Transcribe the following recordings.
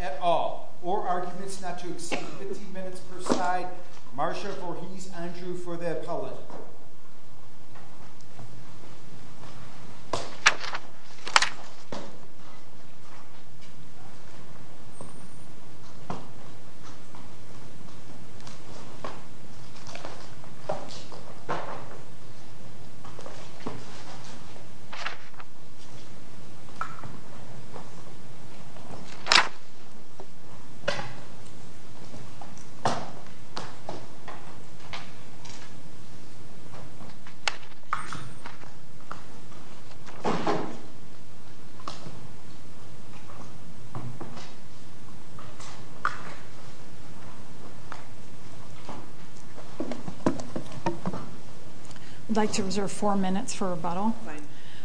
at all, or arguments not to exceed 15 minutes per side, Marcia Borges-Andrew for the appellate. I'd like to reserve four minutes for rebuttal.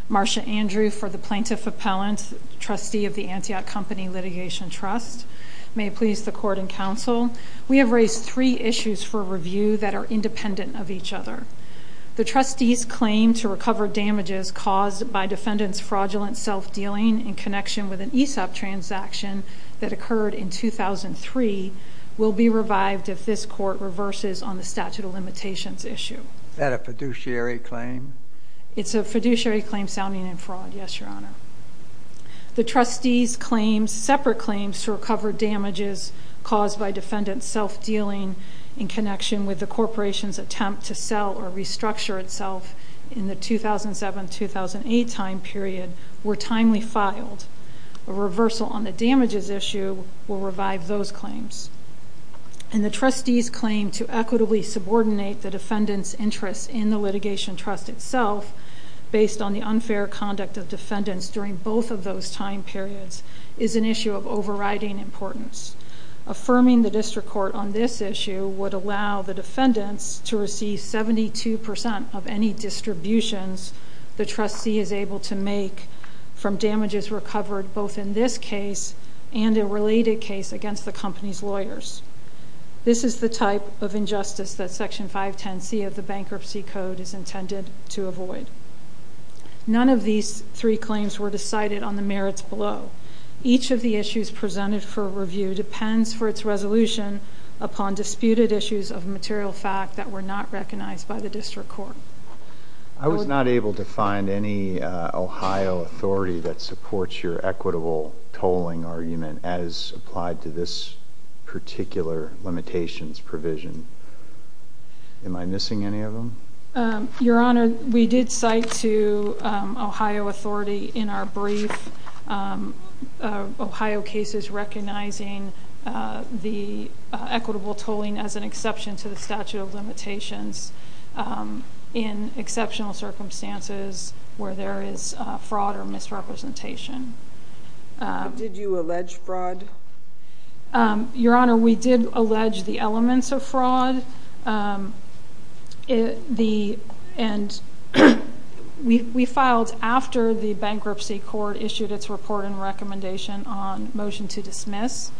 Marcia Andrew for the plaintiff appellant, trustee of the Antioch Company Litigation Trust. May it please the court and counsel, we have raised three issues for review that are independent of each other. The trustee's claim to recover damages caused by defendant's fraudulent self-dealing in connection with an ESOP transaction that occurred in 2003 will be revived if this court reverses on the statute of limitations issue. Is that a fiduciary claim? It's a fiduciary claim sounding in fraud, yes, your honor. The trustee's separate claims to recover damages caused by defendant's self-dealing in connection with the corporation's attempt to sell or restructure itself in the 2007-2008 time period were timely filed. A reversal on the damages issue will revive those claims. And the trustee's claim to equitably subordinate the defendant's interests in the litigation trust itself based on the unfair conduct of defendants during both of those time periods is an issue of overriding importance. Affirming the district court on this issue would allow the defendants to receive 72% of any distributions the trustee is able to make from damages recovered both in this case and a related case against the company's lawyers. This is the type of injustice that Section 510C of the Bankruptcy Code is intended to avoid. None of these three claims were decided on the merits below. Each of the issues presented for review depends for its resolution upon disputed issues of material fact that were not recognized by the district court. I was not able to find any Ohio authority that supports your equitable tolling argument as applied to this particular limitations provision. Am I missing any of them? Your Honor, we did cite to Ohio authority in our brief Ohio cases recognizing the equitable tolling as an exception to the statute of limitations. In exceptional circumstances where there is fraud or misrepresentation. Did you allege fraud? Your Honor, we did allege the elements of fraud. We filed after the bankruptcy court issued its report and recommendation on motion to dismiss.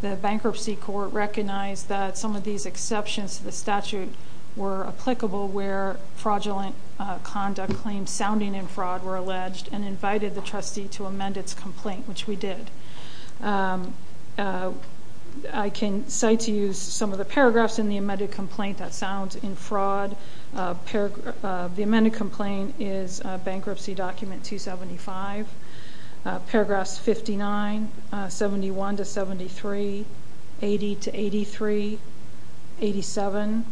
The bankruptcy court recognized that some of these exceptions to the statute were applicable where fraudulent conduct claims sounding in fraud were alleged and invited the trustee to amend its complaint, which we did. I can cite to you some of the paragraphs in the amended complaint that sound in fraud. The amended complaint is Bankruptcy Document 275. Paragraphs 59, 71 to 73, 80 to 83, 87,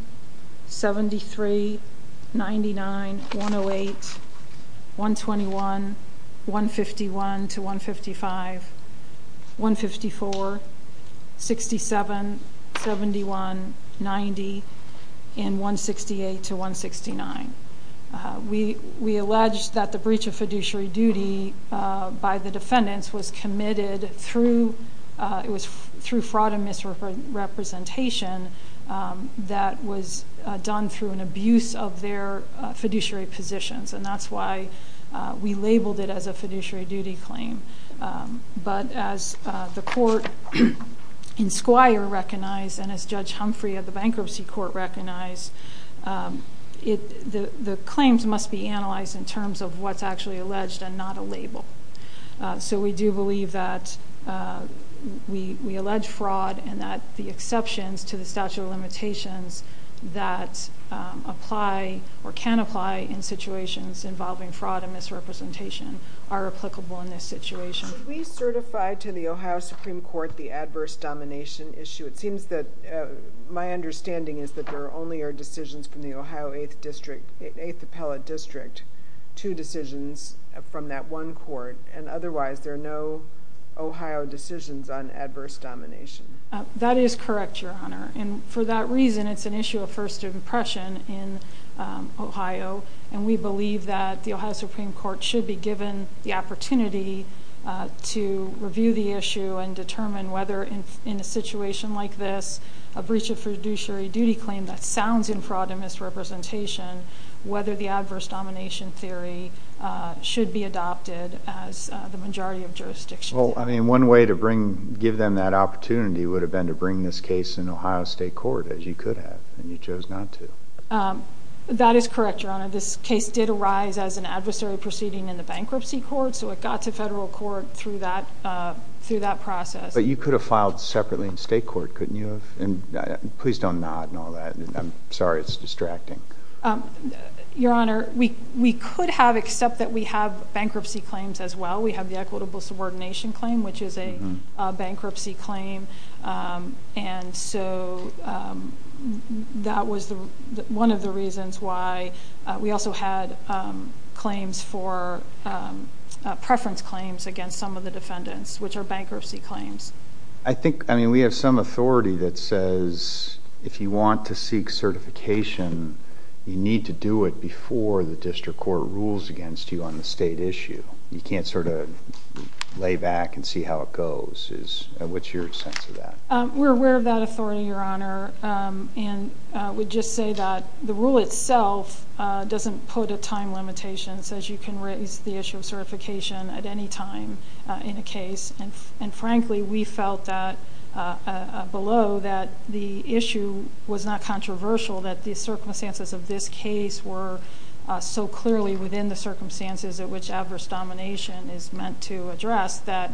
73, 99, 108, 121, 151 to 155, 154, 67, 71, 90, and 168 to 169. We allege that the breach of fiduciary duty by the defendants was committed through fraud and misrepresentation that was done through an abuse of their fiduciary positions. That's why we labeled it as a fiduciary duty claim. But as the court in Squire recognized and as Judge Humphrey of the Bankruptcy Court recognized, the claims must be analyzed in terms of what's actually alleged and not a label. We do believe that we allege fraud and that the exceptions to the statute of limitations that apply or can apply in situations involving fraud and misrepresentation are applicable in this situation. Did we certify to the Ohio Supreme Court the adverse domination issue? It seems that my understanding is that there only are decisions from the Ohio 8th District, 8th Appellate District, two decisions from that one court. And otherwise, there are no Ohio decisions on adverse domination. That is correct, Your Honor. And for that reason, it's an issue of first impression in Ohio. And we believe that the Ohio Supreme Court should be given the opportunity to review the issue and determine whether in a situation like this, a breach of fiduciary duty claim that sounds in fraud and misrepresentation, whether the adverse domination theory should be adopted as the majority of jurisdictions. Well, I mean, one way to give them that opportunity would have been to bring this case in Ohio State Court, as you could have, and you chose not to. That is correct, Your Honor. This case did arise as an adversary proceeding in the Bankruptcy Court, so it got to federal court through that process. But you could have filed separately in state court, couldn't you have? And please don't nod and all that. I'm sorry it's distracting. Your Honor, we could have, except that we have bankruptcy claims as well. We have the equitable subordination claim, which is a bankruptcy claim. And so, that was one of the reasons why we also had claims for... preference claims against some of the defendants, which are bankruptcy claims. I think, I mean, we have some authority that says if you want to seek certification, you need to do it before the district court rules against you on the state issue. You can't sort of lay back and see how it goes. What's your sense of that? We're aware of that authority, Your Honor. And I would just say that the rule itself doesn't put a time limitation. It says you can raise the issue of certification at any time in a case. And frankly, we felt that below, that the issue was not controversial, that the circumstances of this case were so clearly within the circumstances at which adverse domination is meant to address, that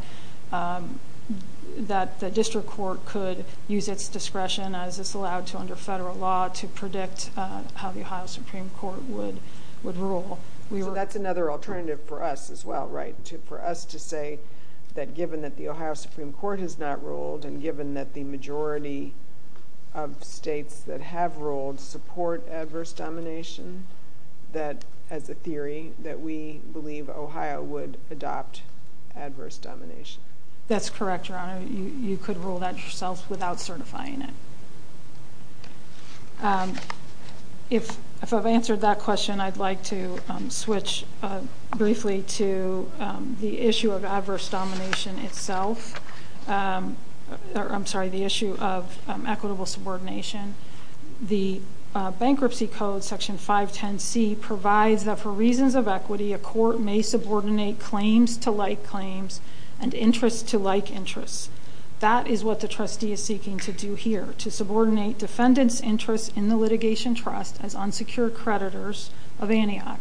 the district court could use its discretion as it's allowed to under federal law to predict how the Ohio Supreme Court would rule. That's another alternative for us as well, right? For us to say that given that the Ohio Supreme Court has not ruled and given that the majority of states that have ruled support adverse domination, that as a theory that we believe Ohio would adopt adverse domination. That's correct, Your Honor. You could rule that yourself without certifying it. If I've answered that question, I'd like to switch briefly to the issue of adverse domination itself. I'm sorry, the issue of equitable subordination. The Bankruptcy Code, Section 510C, provides that for reasons of equity, a court may subordinate claims to like claims and interests to like interests. That is what the trustee is seeking to do here, to subordinate defendants' interests in the litigation trust as unsecured creditors of Antioch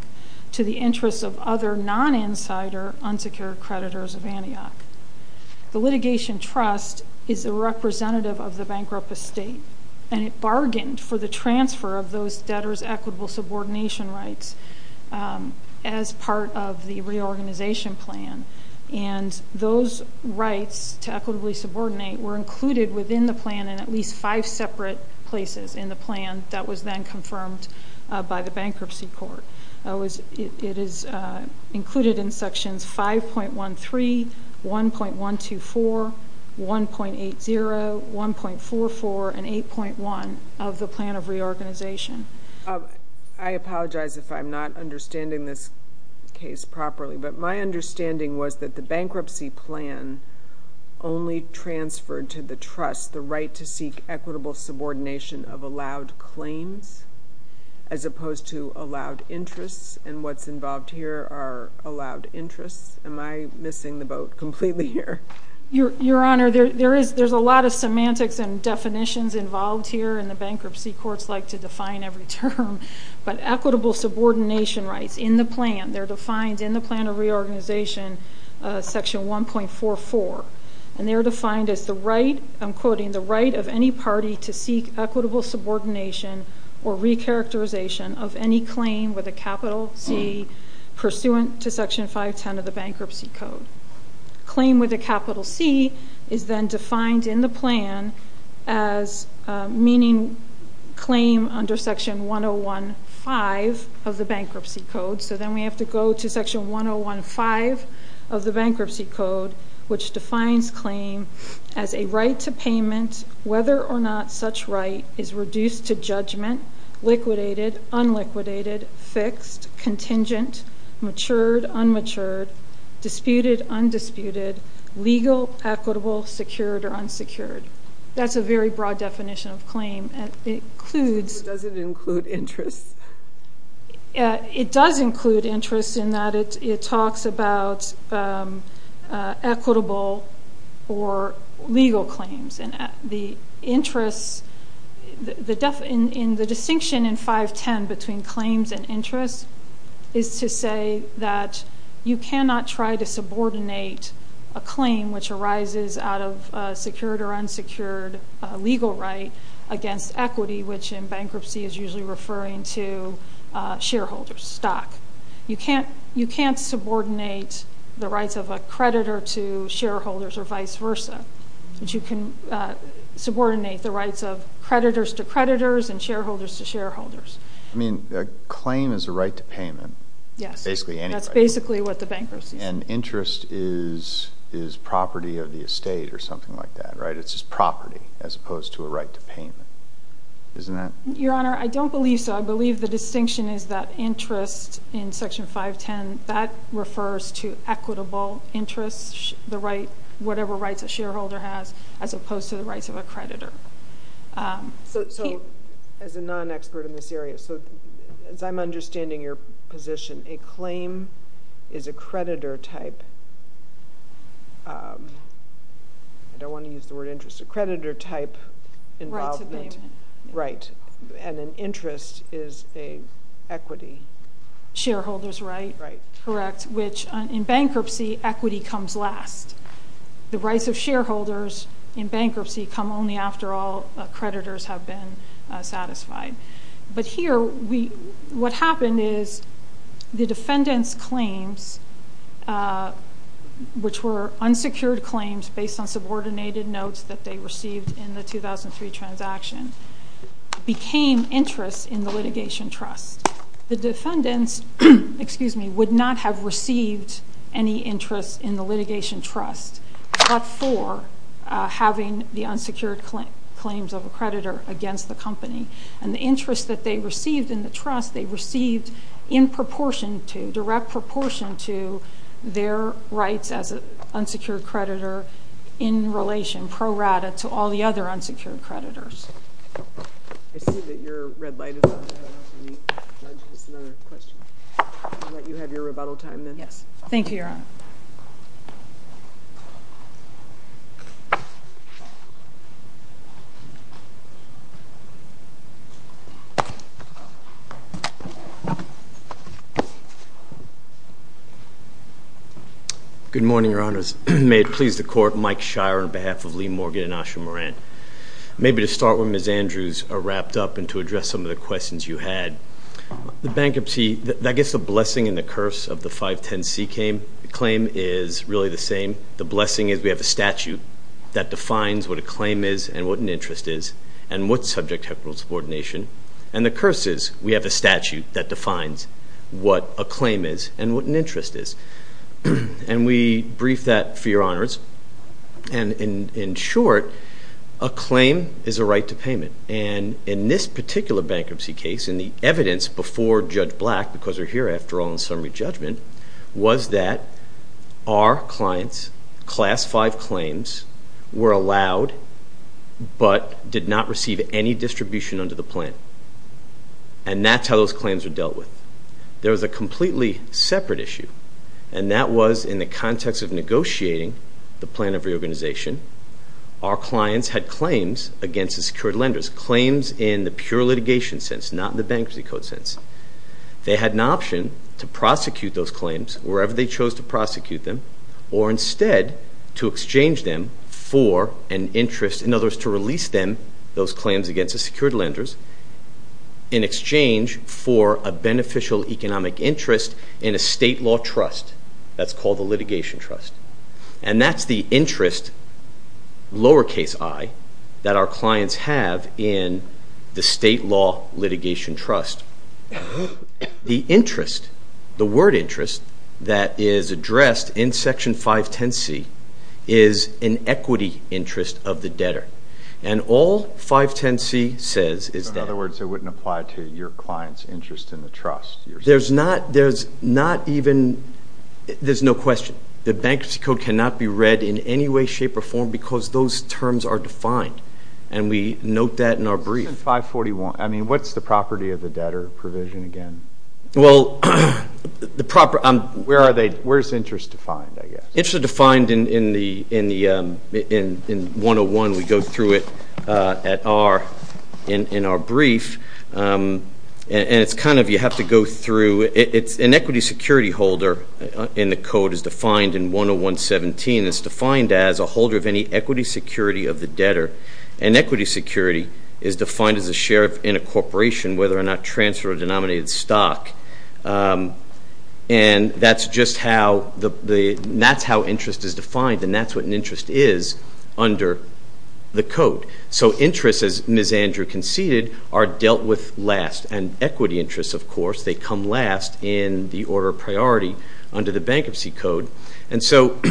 to the interests of other non-insider unsecured creditors of Antioch. The litigation trust is a representative of the bankrupt estate, and it bargained for the transfer of those debtors' equitable subordination rights as part of the reorganization plan. Those rights to equitably subordinate were included within the plan in at least five separate places in the plan that was then confirmed by the bankruptcy court. It is included in Sections 5.13, 1.124, 1.80, 1.44, and 8.1 of the plan of reorganization. I apologize if I'm not understanding this case properly, but my understanding was that the bankruptcy plan only transferred to the trust the right to seek equitable subordination of allowed claims as opposed to allowed interests, and what's involved here are allowed interests. Am I missing the boat completely here? Your Honor, there's a lot of semantics and definitions involved here, and the bankruptcy courts like to define every term, but equitable subordination rights in the plan, they're defined in the plan of reorganization, Section 1.44, and they're defined as the right, I'm quoting, the right of any party to seek equitable subordination or recharacterization of any claim with a capital C pursuant to Section 5.10 of the Bankruptcy Code. Claim with a capital C is then defined in the plan as meaning claim under Section 1.015 of the Bankruptcy Code, so then we have to go to Section 1.015 of the Bankruptcy Code, which defines claim as a right to payment, whether or not such right is reduced to judgment, liquidated, unliquidated, fixed, contingent, matured, unmatured, disputed, undisputed, legal, equitable, secured, or unsecured. That's a very broad definition of claim. It doesn't include interests. It does include interests in that it talks about equitable or legal claims, and the distinction in 5.10 between claims and interests is to say that you cannot try to subordinate a claim which arises out of a secured or unsecured legal right against equity, which in bankruptcy is usually referring to shareholders, stock. You can't subordinate the rights of a creditor to shareholders or vice versa. But you can subordinate the rights of creditors to creditors and shareholders to shareholders. I mean, a claim is a right to payment. Yes. Basically any right. That's basically what the bankruptcy is. And interest is property of the estate or something like that, right? It's just property as opposed to a right to payment. Isn't that? Your Honor, I don't believe so. I believe the distinction is that interest in Section 5.10, that refers to equitable interests, whatever rights a shareholder has as opposed to the rights of a creditor. So as a non-expert in this area, as I'm understanding your position, a claim is a creditor type. I don't want to use the word interest. A creditor type involvement. Rights of payment. Right. And an interest is an equity. Shareholders' right. Right. Correct. Which in bankruptcy, equity comes last. The rights of shareholders in bankruptcy come only after all creditors have been satisfied. But here, what happened is the defendant's claims, which were unsecured claims based on subordinated notes that they received in the 2003 transaction, became interests in the litigation trust. The defendants would not have received any interest in the litigation trust but for having the unsecured claims of a creditor against the company. And the interest that they received in the trust, they received in proportion to, their rights as an unsecured creditor in relation, pro rata, to all the other unsecured creditors. I see that your red light is on. Judge, just another question. I'll let you have your rebuttal time then. Yes. Thank you, Your Honor. Good morning, Your Honors. May it please the Court. Mike Shire on behalf of Lee Morgan and Asha Moran. Maybe to start with, Ms. Andrews, a wrap-up and to address some of the questions you had. The bankruptcy, I guess the blessing and the curse of the 510C claim is really the same. The blessing is we have a statute that defines what a claim is and what an interest is and what subject have rules of ordination. And the curse is we have a statute that defines what a claim is and what an interest is. And we brief that for your honors. And in short, a claim is a right to payment. And in this particular bankruptcy case, in the evidence before Judge Black, because we're here after all in summary judgment, was that our clients' Class V claims were allowed but did not receive any distribution under the plan. And that's how those claims were dealt with. There was a completely separate issue, and that was in the context of negotiating the plan of reorganization. Our clients had claims against the secured lenders, claims in the pure litigation sense, not in the bankruptcy code sense. They had an option to prosecute those claims wherever they chose to prosecute them or instead to exchange them for an interest, in other words, to release them, those claims against the secured lenders, in exchange for a beneficial economic interest in a state law trust. That's called the litigation trust. And that's the interest, lowercase i, that our clients have in the state law litigation trust. The interest, the word interest, that is addressed in Section 510C is an equity interest of the debtor. And all 510C says is that. In other words, it wouldn't apply to your client's interest in the trust. There's not even, there's no question. The bankruptcy code cannot be read in any way, shape, or form because those terms are defined, and we note that in our brief. Section 541, I mean, what's the property of the debtor provision again? Well, the proper, where's interest defined, I guess? Interest is defined in 101. We go through it in our brief. And it's kind of, you have to go through, an equity security holder in the code is defined in 10117. It's defined as a holder of any equity security of the debtor. And equity security is defined as a share in a corporation, whether or not transfer a denominated stock. And that's just how the, that's how interest is defined, and that's what an interest is under the code. So interest, as Ms. Andrew conceded, are dealt with last. And equity interests, of course, they come last in the order of priority under the bankruptcy code. And so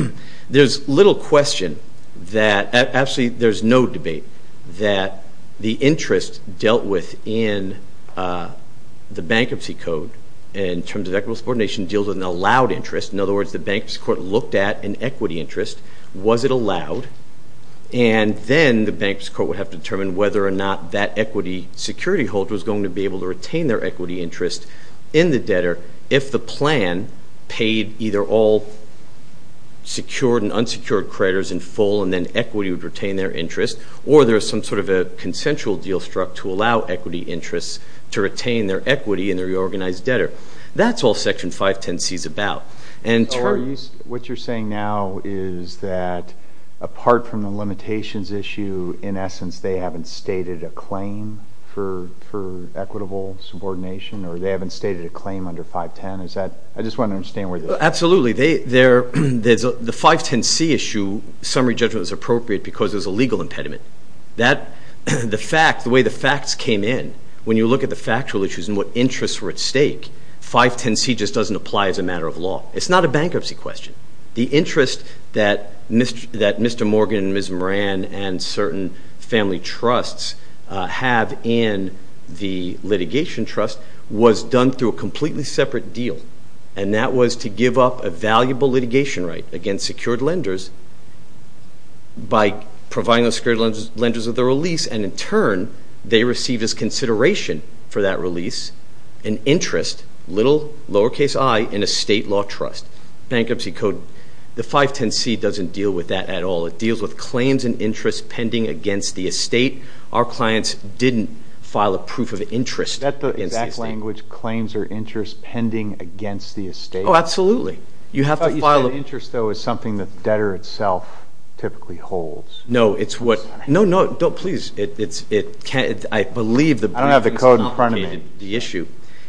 there's little question that, actually, there's no debate that the interest dealt with in the bankruptcy code in terms of equitable subordination deals with an allowed interest. In other words, the bankruptcy court looked at an equity interest. Was it allowed? And then the bankruptcy court would have to determine whether or not that equity security holder was going to be able to retain their equity interest in the debtor if the plan paid either all secured and unsecured creditors in full and then equity would retain their interest, or there was some sort of a consensual deal struck to allow equity interests to retain their equity in the reorganized debtor. That's all Section 510C is about. What you're saying now is that apart from the limitations issue, in essence they haven't stated a claim for equitable subordination, or they haven't stated a claim under 510? I just want to understand where this is. Absolutely. The 510C issue summary judgment was appropriate because there's a legal impediment. The way the facts came in, when you look at the factual issues and what interests were at stake, 510C just doesn't apply as a matter of law. It's not a bankruptcy question. The interest that Mr. Morgan and Ms. Moran and certain family trusts have in the litigation trust was done through a completely separate deal, and that was to give up a valuable litigation right against secured lenders by providing those secured lenders with a release, and in turn they received as consideration for that release an interest, little lowercase i, in a state law trust. Bankruptcy code, the 510C doesn't deal with that at all. It deals with claims and interest pending against the estate. Our clients didn't file a proof of interest against the estate. Is that the exact language, claims or interest pending against the estate? Oh, absolutely. You have to file a- I thought you said interest, though, is something that the debtor itself typically holds. No, it's what-no, no, don't, please. It can't-I believe the bank- I don't have the code in front of me. It's not the issue.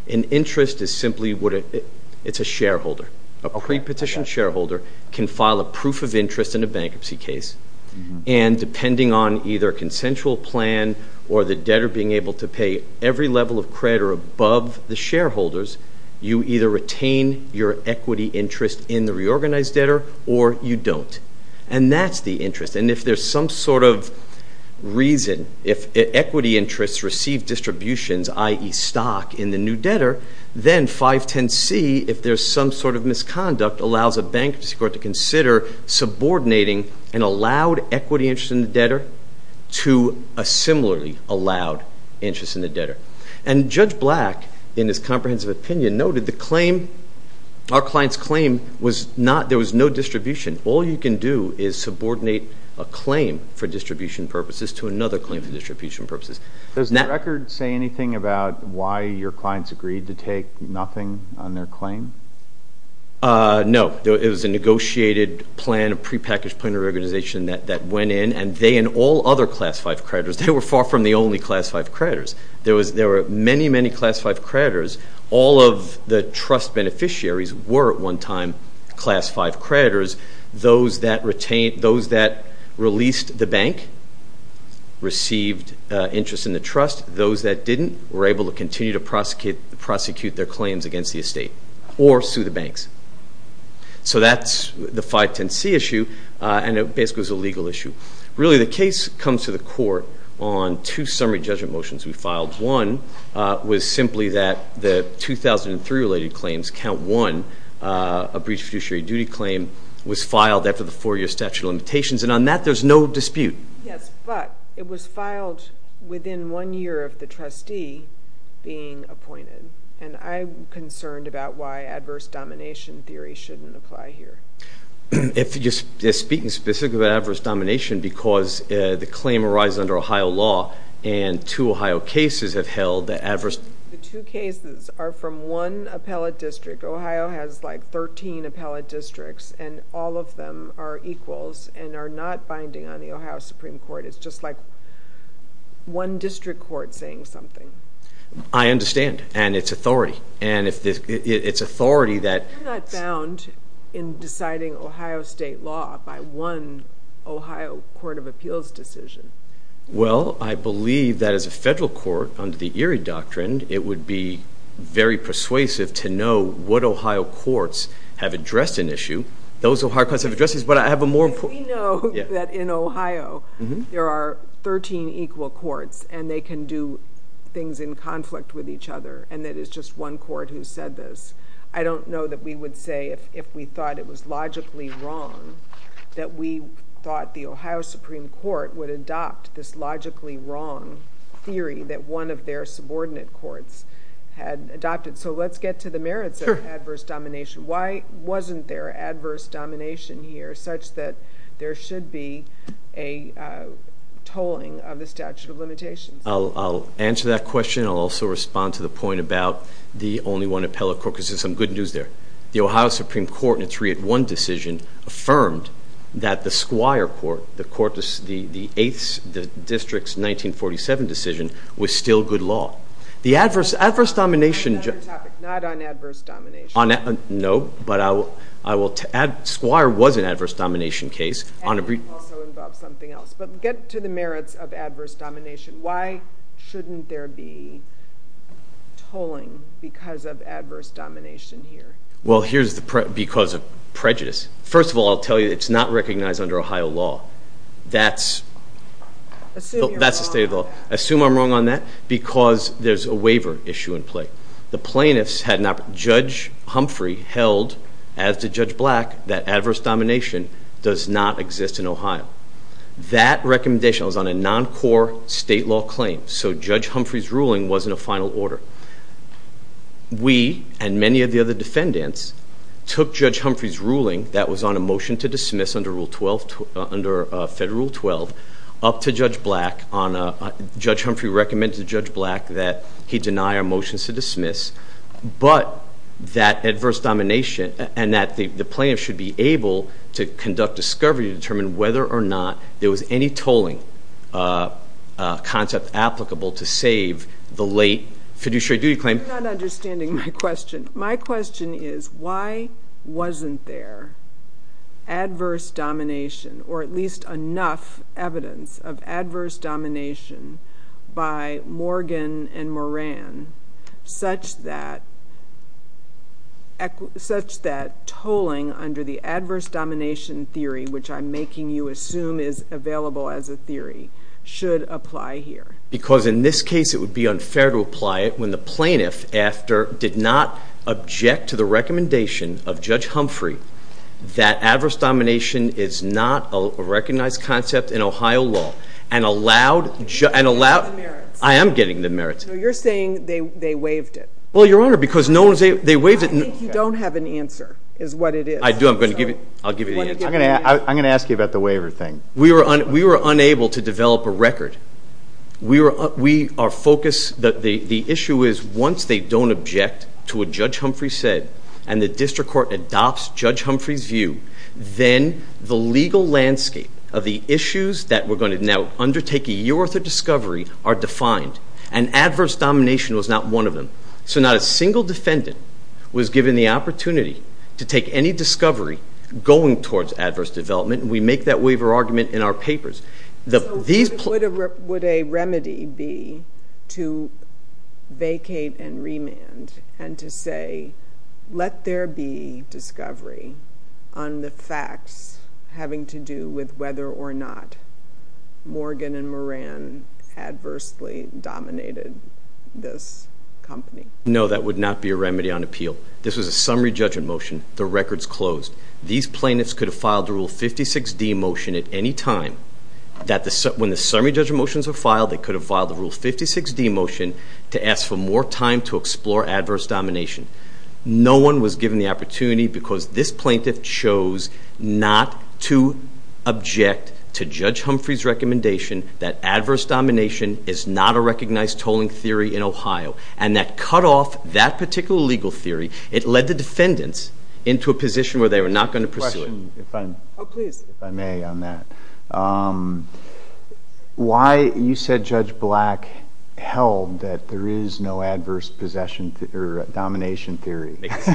An interest is simply what a-it's a shareholder. A prepetition shareholder can file a proof of interest in a bankruptcy case, and depending on either a consensual plan or the debtor being able to pay every level of credit or above the shareholders, you either retain your equity interest in the reorganized debtor or you don't, and that's the interest. And if there's some sort of reason, if equity interests receive distributions, i.e., stock, in the new debtor, then 510C, if there's some sort of misconduct, allows a bankruptcy court to consider subordinating an allowed equity interest in the debtor to a similarly allowed interest in the debtor. And Judge Black, in his comprehensive opinion, noted the claim-our client's claim was not- there was no distribution. All you can do is subordinate a claim for distribution purposes to another claim for distribution purposes. Does the record say anything about why your clients agreed to take nothing on their claim? No. It was a negotiated plan, a prepackaged plan of organization that went in, and they and all other Class V creditors, they were far from the only Class V creditors. There were many, many Class V creditors. All of the trust beneficiaries were at one time Class V creditors. Those that released the bank received interest in the trust. Those that didn't were able to continue to prosecute their claims against the estate. Or sue the banks. So that's the 510C issue, and it basically was a legal issue. Really, the case comes to the court on two summary judgment motions we filed. One was simply that the 2003 related claims, Count 1, a breach of fiduciary duty claim, was filed after the four-year statute of limitations, and on that there's no dispute. Yes, but it was filed within one year of the trustee being appointed. And I'm concerned about why adverse domination theory shouldn't apply here. If you're speaking specifically about adverse domination because the claim arises under Ohio law and two Ohio cases have held that adverse domination. The two cases are from one appellate district. Ohio has like 13 appellate districts, and all of them are equals and are not binding on the Ohio Supreme Court. It's just like one district court saying something. I understand, and it's authority. And it's authority that... You're not bound in deciding Ohio state law by one Ohio court of appeals decision. Well, I believe that as a federal court, under the Erie Doctrine, it would be very persuasive to know what Ohio courts have addressed an issue. Those Ohio courts have addressed this, but I have a more important... We know that in Ohio there are 13 equal courts, and they can do things in conflict with each other, and that it's just one court who said this. I don't know that we would say if we thought it was logically wrong that we thought the Ohio Supreme Court would adopt this logically wrong theory that one of their subordinate courts had adopted. So let's get to the merits of adverse domination. Why wasn't there adverse domination here, such that there should be a tolling of the statute of limitations? I'll answer that question. I'll also respond to the point about the only one appellate court, because there's some good news there. The Ohio Supreme Court, in a 3-1 decision, affirmed that the squire court, the district's 1947 decision, was still good law. The adverse domination... Not on adverse domination. No, but squire was an adverse domination case. And it also involved something else. But get to the merits of adverse domination. Why shouldn't there be tolling because of adverse domination here? Well, here's the prejudice. First of all, I'll tell you it's not recognized under Ohio law. That's the state of the law. Assume I'm wrong on that because there's a waiver issue in play. The plaintiffs had not... Judge Humphrey held, as did Judge Black, that adverse domination does not exist in Ohio. That recommendation was on a non-core state law claim, so Judge Humphrey's ruling wasn't a final order. We, and many of the other defendants, took Judge Humphrey's ruling that was on a motion to dismiss under Federal Rule 12, up to Judge Black on a... But that adverse domination, and that the plaintiffs should be able to conduct discovery to determine whether or not there was any tolling concept applicable to save the late fiduciary duty claim... You're not understanding my question. My question is, why wasn't there adverse domination, or at least enough evidence of adverse domination by Morgan and Moran such that tolling under the adverse domination theory, which I'm making you assume is available as a theory, should apply here? Because in this case, it would be unfair to apply it when the plaintiff did not object to the recommendation of Judge Humphrey that adverse domination is not a recognized concept in Ohio law, and allowed... You're not getting the merits. I am getting the merits. So you're saying they waived it. Well, Your Honor, because no one... I think you don't have an answer, is what it is. I do. I'm going to give you the answer. I'm going to ask you about the waiver thing. We were unable to develop a record. We are focused... The issue is, once they don't object to what Judge Humphrey said, and the district court adopts Judge Humphrey's view, then the legal landscape of the issues that we're going to now undertake here with the discovery are defined, and adverse domination was not one of them. So not a single defendant was given the opportunity to take any discovery going towards adverse development, and we make that waiver argument in our papers. So what would a remedy be to vacate and remand, and to say, let there be discovery on the facts having to do with whether or not Morgan and Moran adversely dominated this company? No, that would not be a remedy on appeal. This was a summary judgment motion. The record's closed. These plaintiffs could have filed the Rule 56d motion at any time. When the summary judgment motions were filed, they could have filed the Rule 56d motion to ask for more time to explore adverse domination. No one was given the opportunity because this plaintiff chose not to object to Judge Humphrey's recommendation that adverse domination is not a recognized tolling theory in Ohio, and that cut off that particular legal theory. It led the defendants into a position where they were not going to pursue it. I have a question, if I may, on that. You said Judge Black held that there is no adverse domination theory. As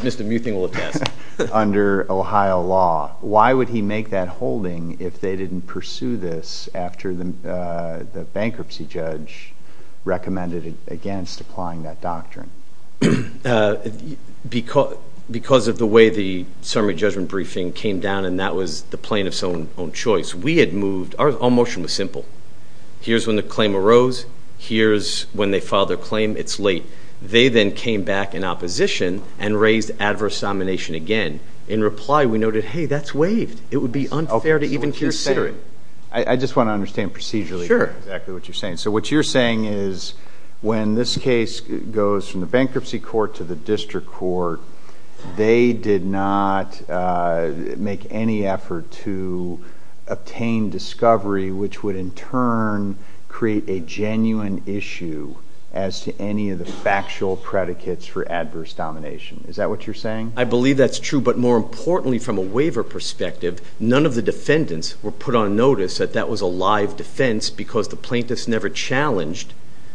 Mr. Muthing will attest. Under Ohio law, why would he make that holding if they didn't pursue this after the bankruptcy judge recommended against applying that doctrine? Because of the way the summary judgment briefing came down, and that was the plaintiff's own choice. We had moved. Our motion was simple. Here's when the claim arose. Here's when they filed their claim. It's late. They then came back in opposition and raised adverse domination again. In reply, we noted, hey, that's waived. It would be unfair to even consider it. I just want to understand procedurally exactly what you're saying. So what you're saying is when this case goes from the bankruptcy court to the district court, they did not make any effort to obtain discovery, which would in turn create a genuine issue as to any of the factual predicates for adverse domination. Is that what you're saying? I believe that's true. But more importantly, from a waiver perspective, none of the defendants were put on notice that that was a live defense because the plaintiffs never challenged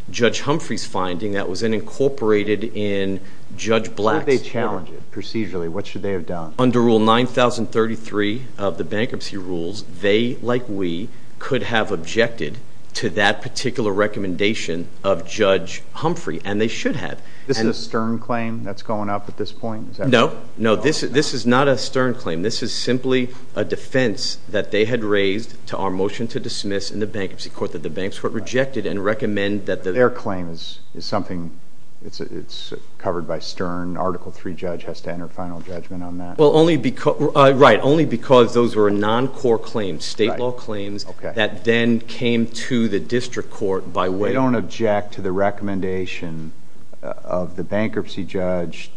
Judge Humphrey's finding that was then incorporated in Judge Black's. What if they challenged it procedurally? What should they have done? Under Rule 9033 of the bankruptcy rules, they, like we, could have objected to that particular recommendation of Judge Humphrey, and they should have. This is a Stern claim that's going up at this point? No. No, this is not a Stern claim. This is simply a defense that they had raised to our motion to dismiss in the bankruptcy court that the bank's court rejected and recommend that the- Their claim is something that's covered by Stern. Article III judge has to enter final judgment on that. Right, only because those were non-court claims, state law claims, that then came to the district court by way of- They don't object to the recommendation of the bankruptcy judge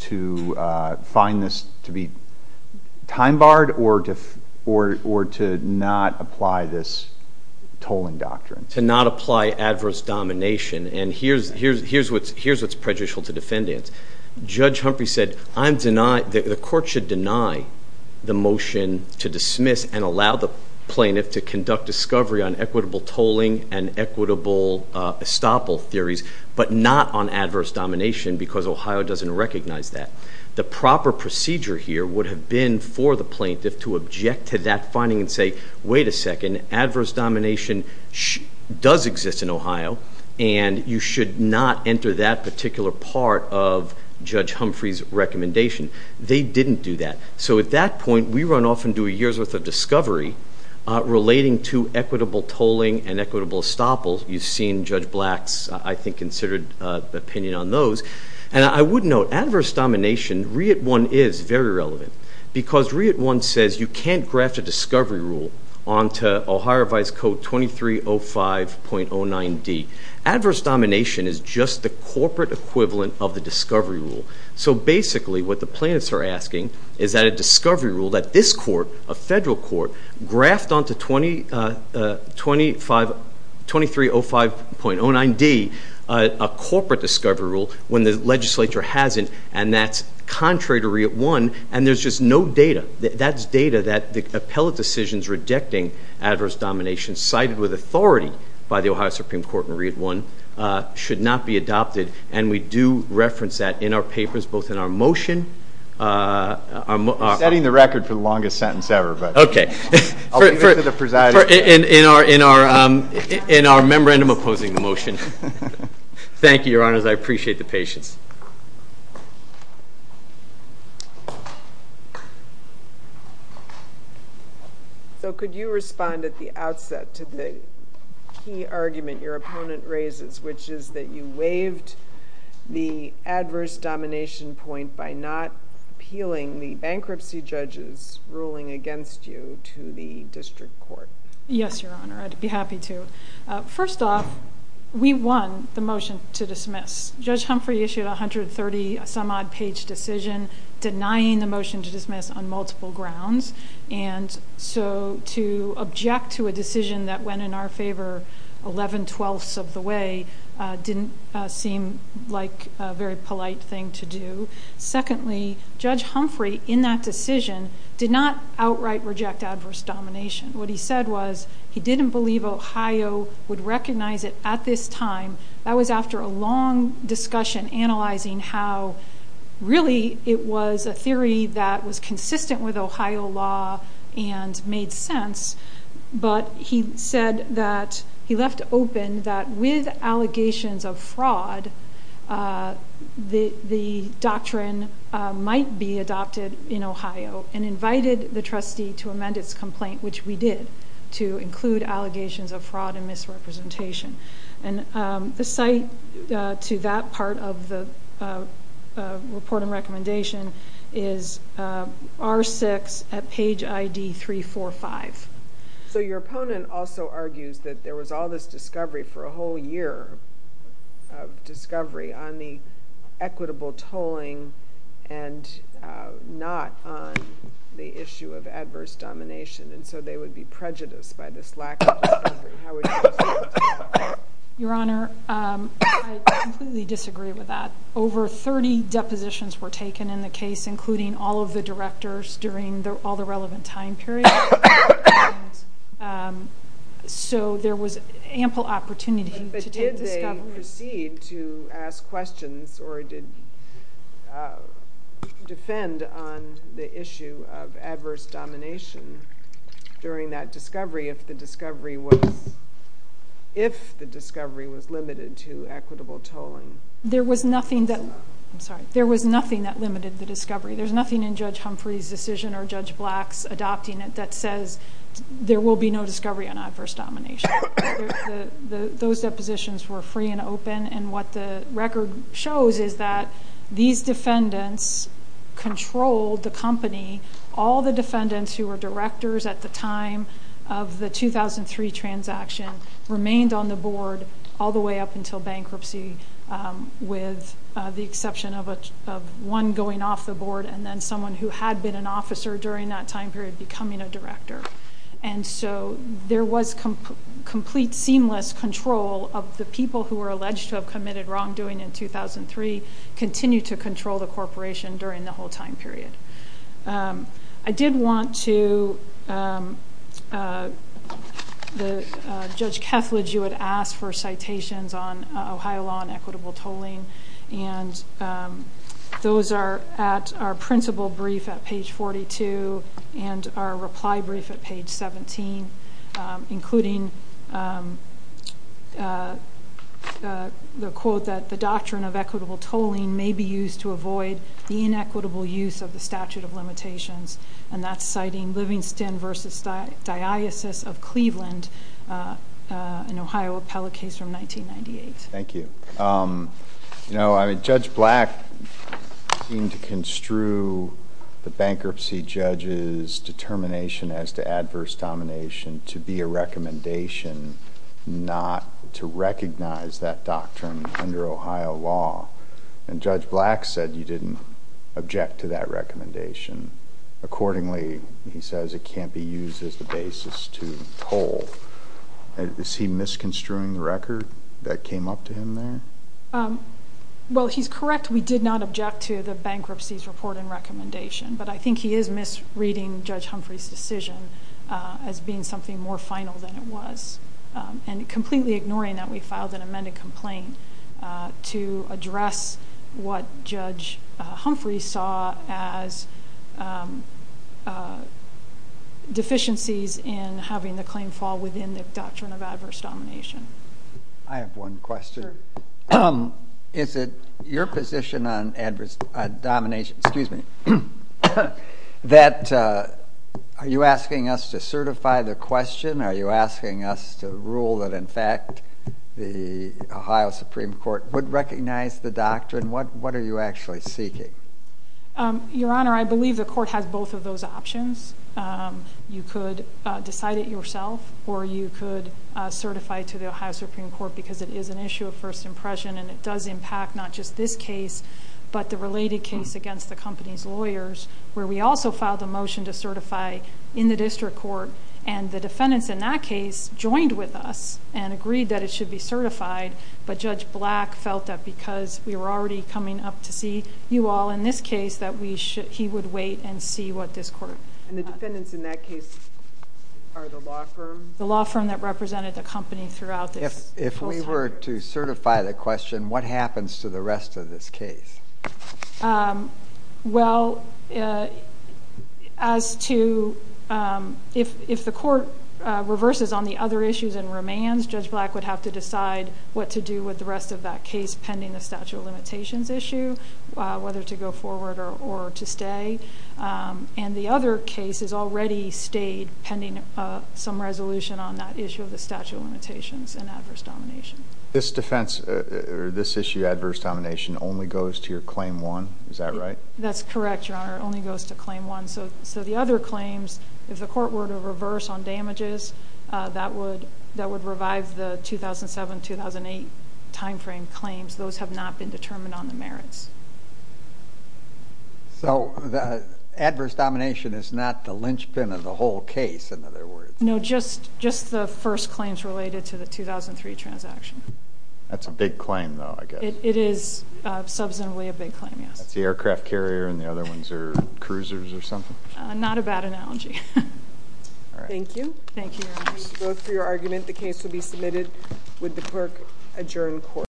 to find this to be time-barred or to not apply this tolling doctrine? To not apply adverse domination. And here's what's prejudicial to defendants. Judge Humphrey said, the court should deny the motion to dismiss and allow the plaintiff to conduct discovery on equitable tolling and equitable estoppel theories, but not on adverse domination because Ohio doesn't recognize that. The proper procedure here would have been for the plaintiff to object to that finding and you should not enter that particular part of Judge Humphrey's recommendation. They didn't do that. So at that point, we run off and do a year's worth of discovery relating to equitable tolling and equitable estoppel. You've seen Judge Black's, I think, considered opinion on those. And I would note, adverse domination, REIT I is very relevant because REIT I says you can't graft a discovery rule onto Ohio Vice Code 2305.09d. Adverse domination is just the corporate equivalent of the discovery rule. So basically what the plaintiffs are asking is that a discovery rule that this court, a federal court, graft onto 2305.09d, a corporate discovery rule, when the legislature hasn't, and that's contrary to REIT I, and there's just no data. That's data that the appellate decisions rejecting adverse domination cited with authority by the Ohio Supreme Court in REIT I should not be adopted, and we do reference that in our papers both in our motion. I'm setting the record for the longest sentence ever. Okay. I'll leave it to the presiding judge. In our memorandum opposing the motion. Thank you, Your Honors. I appreciate the patience. So could you respond at the outset to the key argument your opponent raises, which is that you waived the adverse domination point by not appealing the bankruptcy judge's ruling against you to the district court? Yes, Your Honor. I'd be happy to. First off, we won the motion to dismiss. Judge Humphrey issued a 130-some-odd-page decision denying the motion to dismiss on multiple grounds, and so to object to a decision that went in our favor 11 twelfths of the way didn't seem like a very polite thing to do. Secondly, Judge Humphrey in that decision did not outright reject adverse domination. What he said was he didn't believe Ohio would recognize it at this time. That was after a long discussion analyzing how really it was a theory that was consistent with Ohio law and made sense, but he said that he left open that with allegations of fraud, the doctrine might be adopted in Ohio and invited the trustee to amend its complaint, which we did, to include allegations of fraud and misrepresentation. The cite to that part of the report and recommendation is R6 at page ID 345. So your opponent also argues that there was all this discovery for a whole year of discovery on the equitable tolling and not on the issue of adverse domination, and so they would be prejudiced by this lack of discovery. How would you respond to that? Your Honor, I completely disagree with that. Over 30 depositions were taken in the case, including all of the directors during all the relevant time period, so there was ample opportunity to take Did they proceed to ask questions or defend on the issue of adverse domination during that discovery if the discovery was limited to equitable tolling? There was nothing that limited the discovery. There's nothing in Judge Humphrey's decision or Judge Black's adopting it that says there will be no discovery on adverse domination. Those depositions were free and open, and what the record shows is that these defendants controlled the company. All the defendants who were directors at the time of the 2003 transaction remained on the board all the way up until bankruptcy, with the exception of one going off the board and then someone who had been an officer during that time period becoming a director. There was complete, seamless control of the people who were alleged to have committed wrongdoing in 2003, continued to control the corporation during the whole time period. I did want to, Judge Kethledge, you had asked for citations on Ohio law on equitable tolling, and those are at our principal brief at page 42 and our reply brief at page 17, including the quote that the doctrine of equitable tolling may be used to avoid the inequitable use of the statute of limitations, and that's citing Livingston v. Diasis of Cleveland, an Ohio appellate case from 1998. Thank you. Judge Black seemed to construe the bankruptcy judge's determination as to adverse domination to be a recommendation not to recognize that doctrine under Ohio law, and Judge Black said you didn't object to that recommendation. Accordingly, he says it can't be used as the basis to toll. Is he misconstruing the record that came up to him there? Well, he's correct. We did not object to the bankruptcy's report and recommendation, but I think he is misreading Judge Humphrey's decision as being something more final than it was and completely ignoring that we filed an amended complaint to address what Judge Humphrey saw as deficiencies in having the claim fall within the doctrine of adverse domination. I have one question. Sure. Is it your position on adverse domination that are you asking us to certify the question? Are you asking us to rule that, in fact, the Ohio Supreme Court would recognize the doctrine? What are you actually seeking? Your Honor, I believe the court has both of those options. You could decide it yourself or you could certify to the Ohio Supreme Court because it is an issue of first impression and it does impact not just this case but the related case against the company's lawyers, where we also filed a motion to certify in the district court, and the defendants in that case joined with us and agreed that it should be certified, but Judge Black felt that because we were already coming up to see you all in this case that he would wait and see what this court... And the defendants in that case are the law firm? The law firm that represented the company throughout this whole time. If we were to certify the question, what happens to the rest of this case? Well, as to... if the court reverses on the other issues and remains, Judge Black would have to decide what to do with the rest of that case pending the statute of limitations issue, whether to go forward or to stay. And the other case has already stayed pending some resolution on that issue of the statute of limitations and adverse domination. This defense or this issue, adverse domination, only goes to your claim one? Is that right? That's correct, Your Honor. It only goes to claim one. So the other claims, if the court were to reverse on damages, that would revive the 2007-2008 timeframe claims. Those have not been determined on the merits. So the adverse domination is not the linchpin of the whole case, in other words? No, just the first claims related to the 2003 transaction. That's a big claim, though, I guess. It is substantively a big claim, yes. It's the aircraft carrier and the other ones are cruisers or something? Not a bad analogy. Thank you. Thank you, Your Honor. Vote for your argument. The case will be submitted with the clerk adjourned court.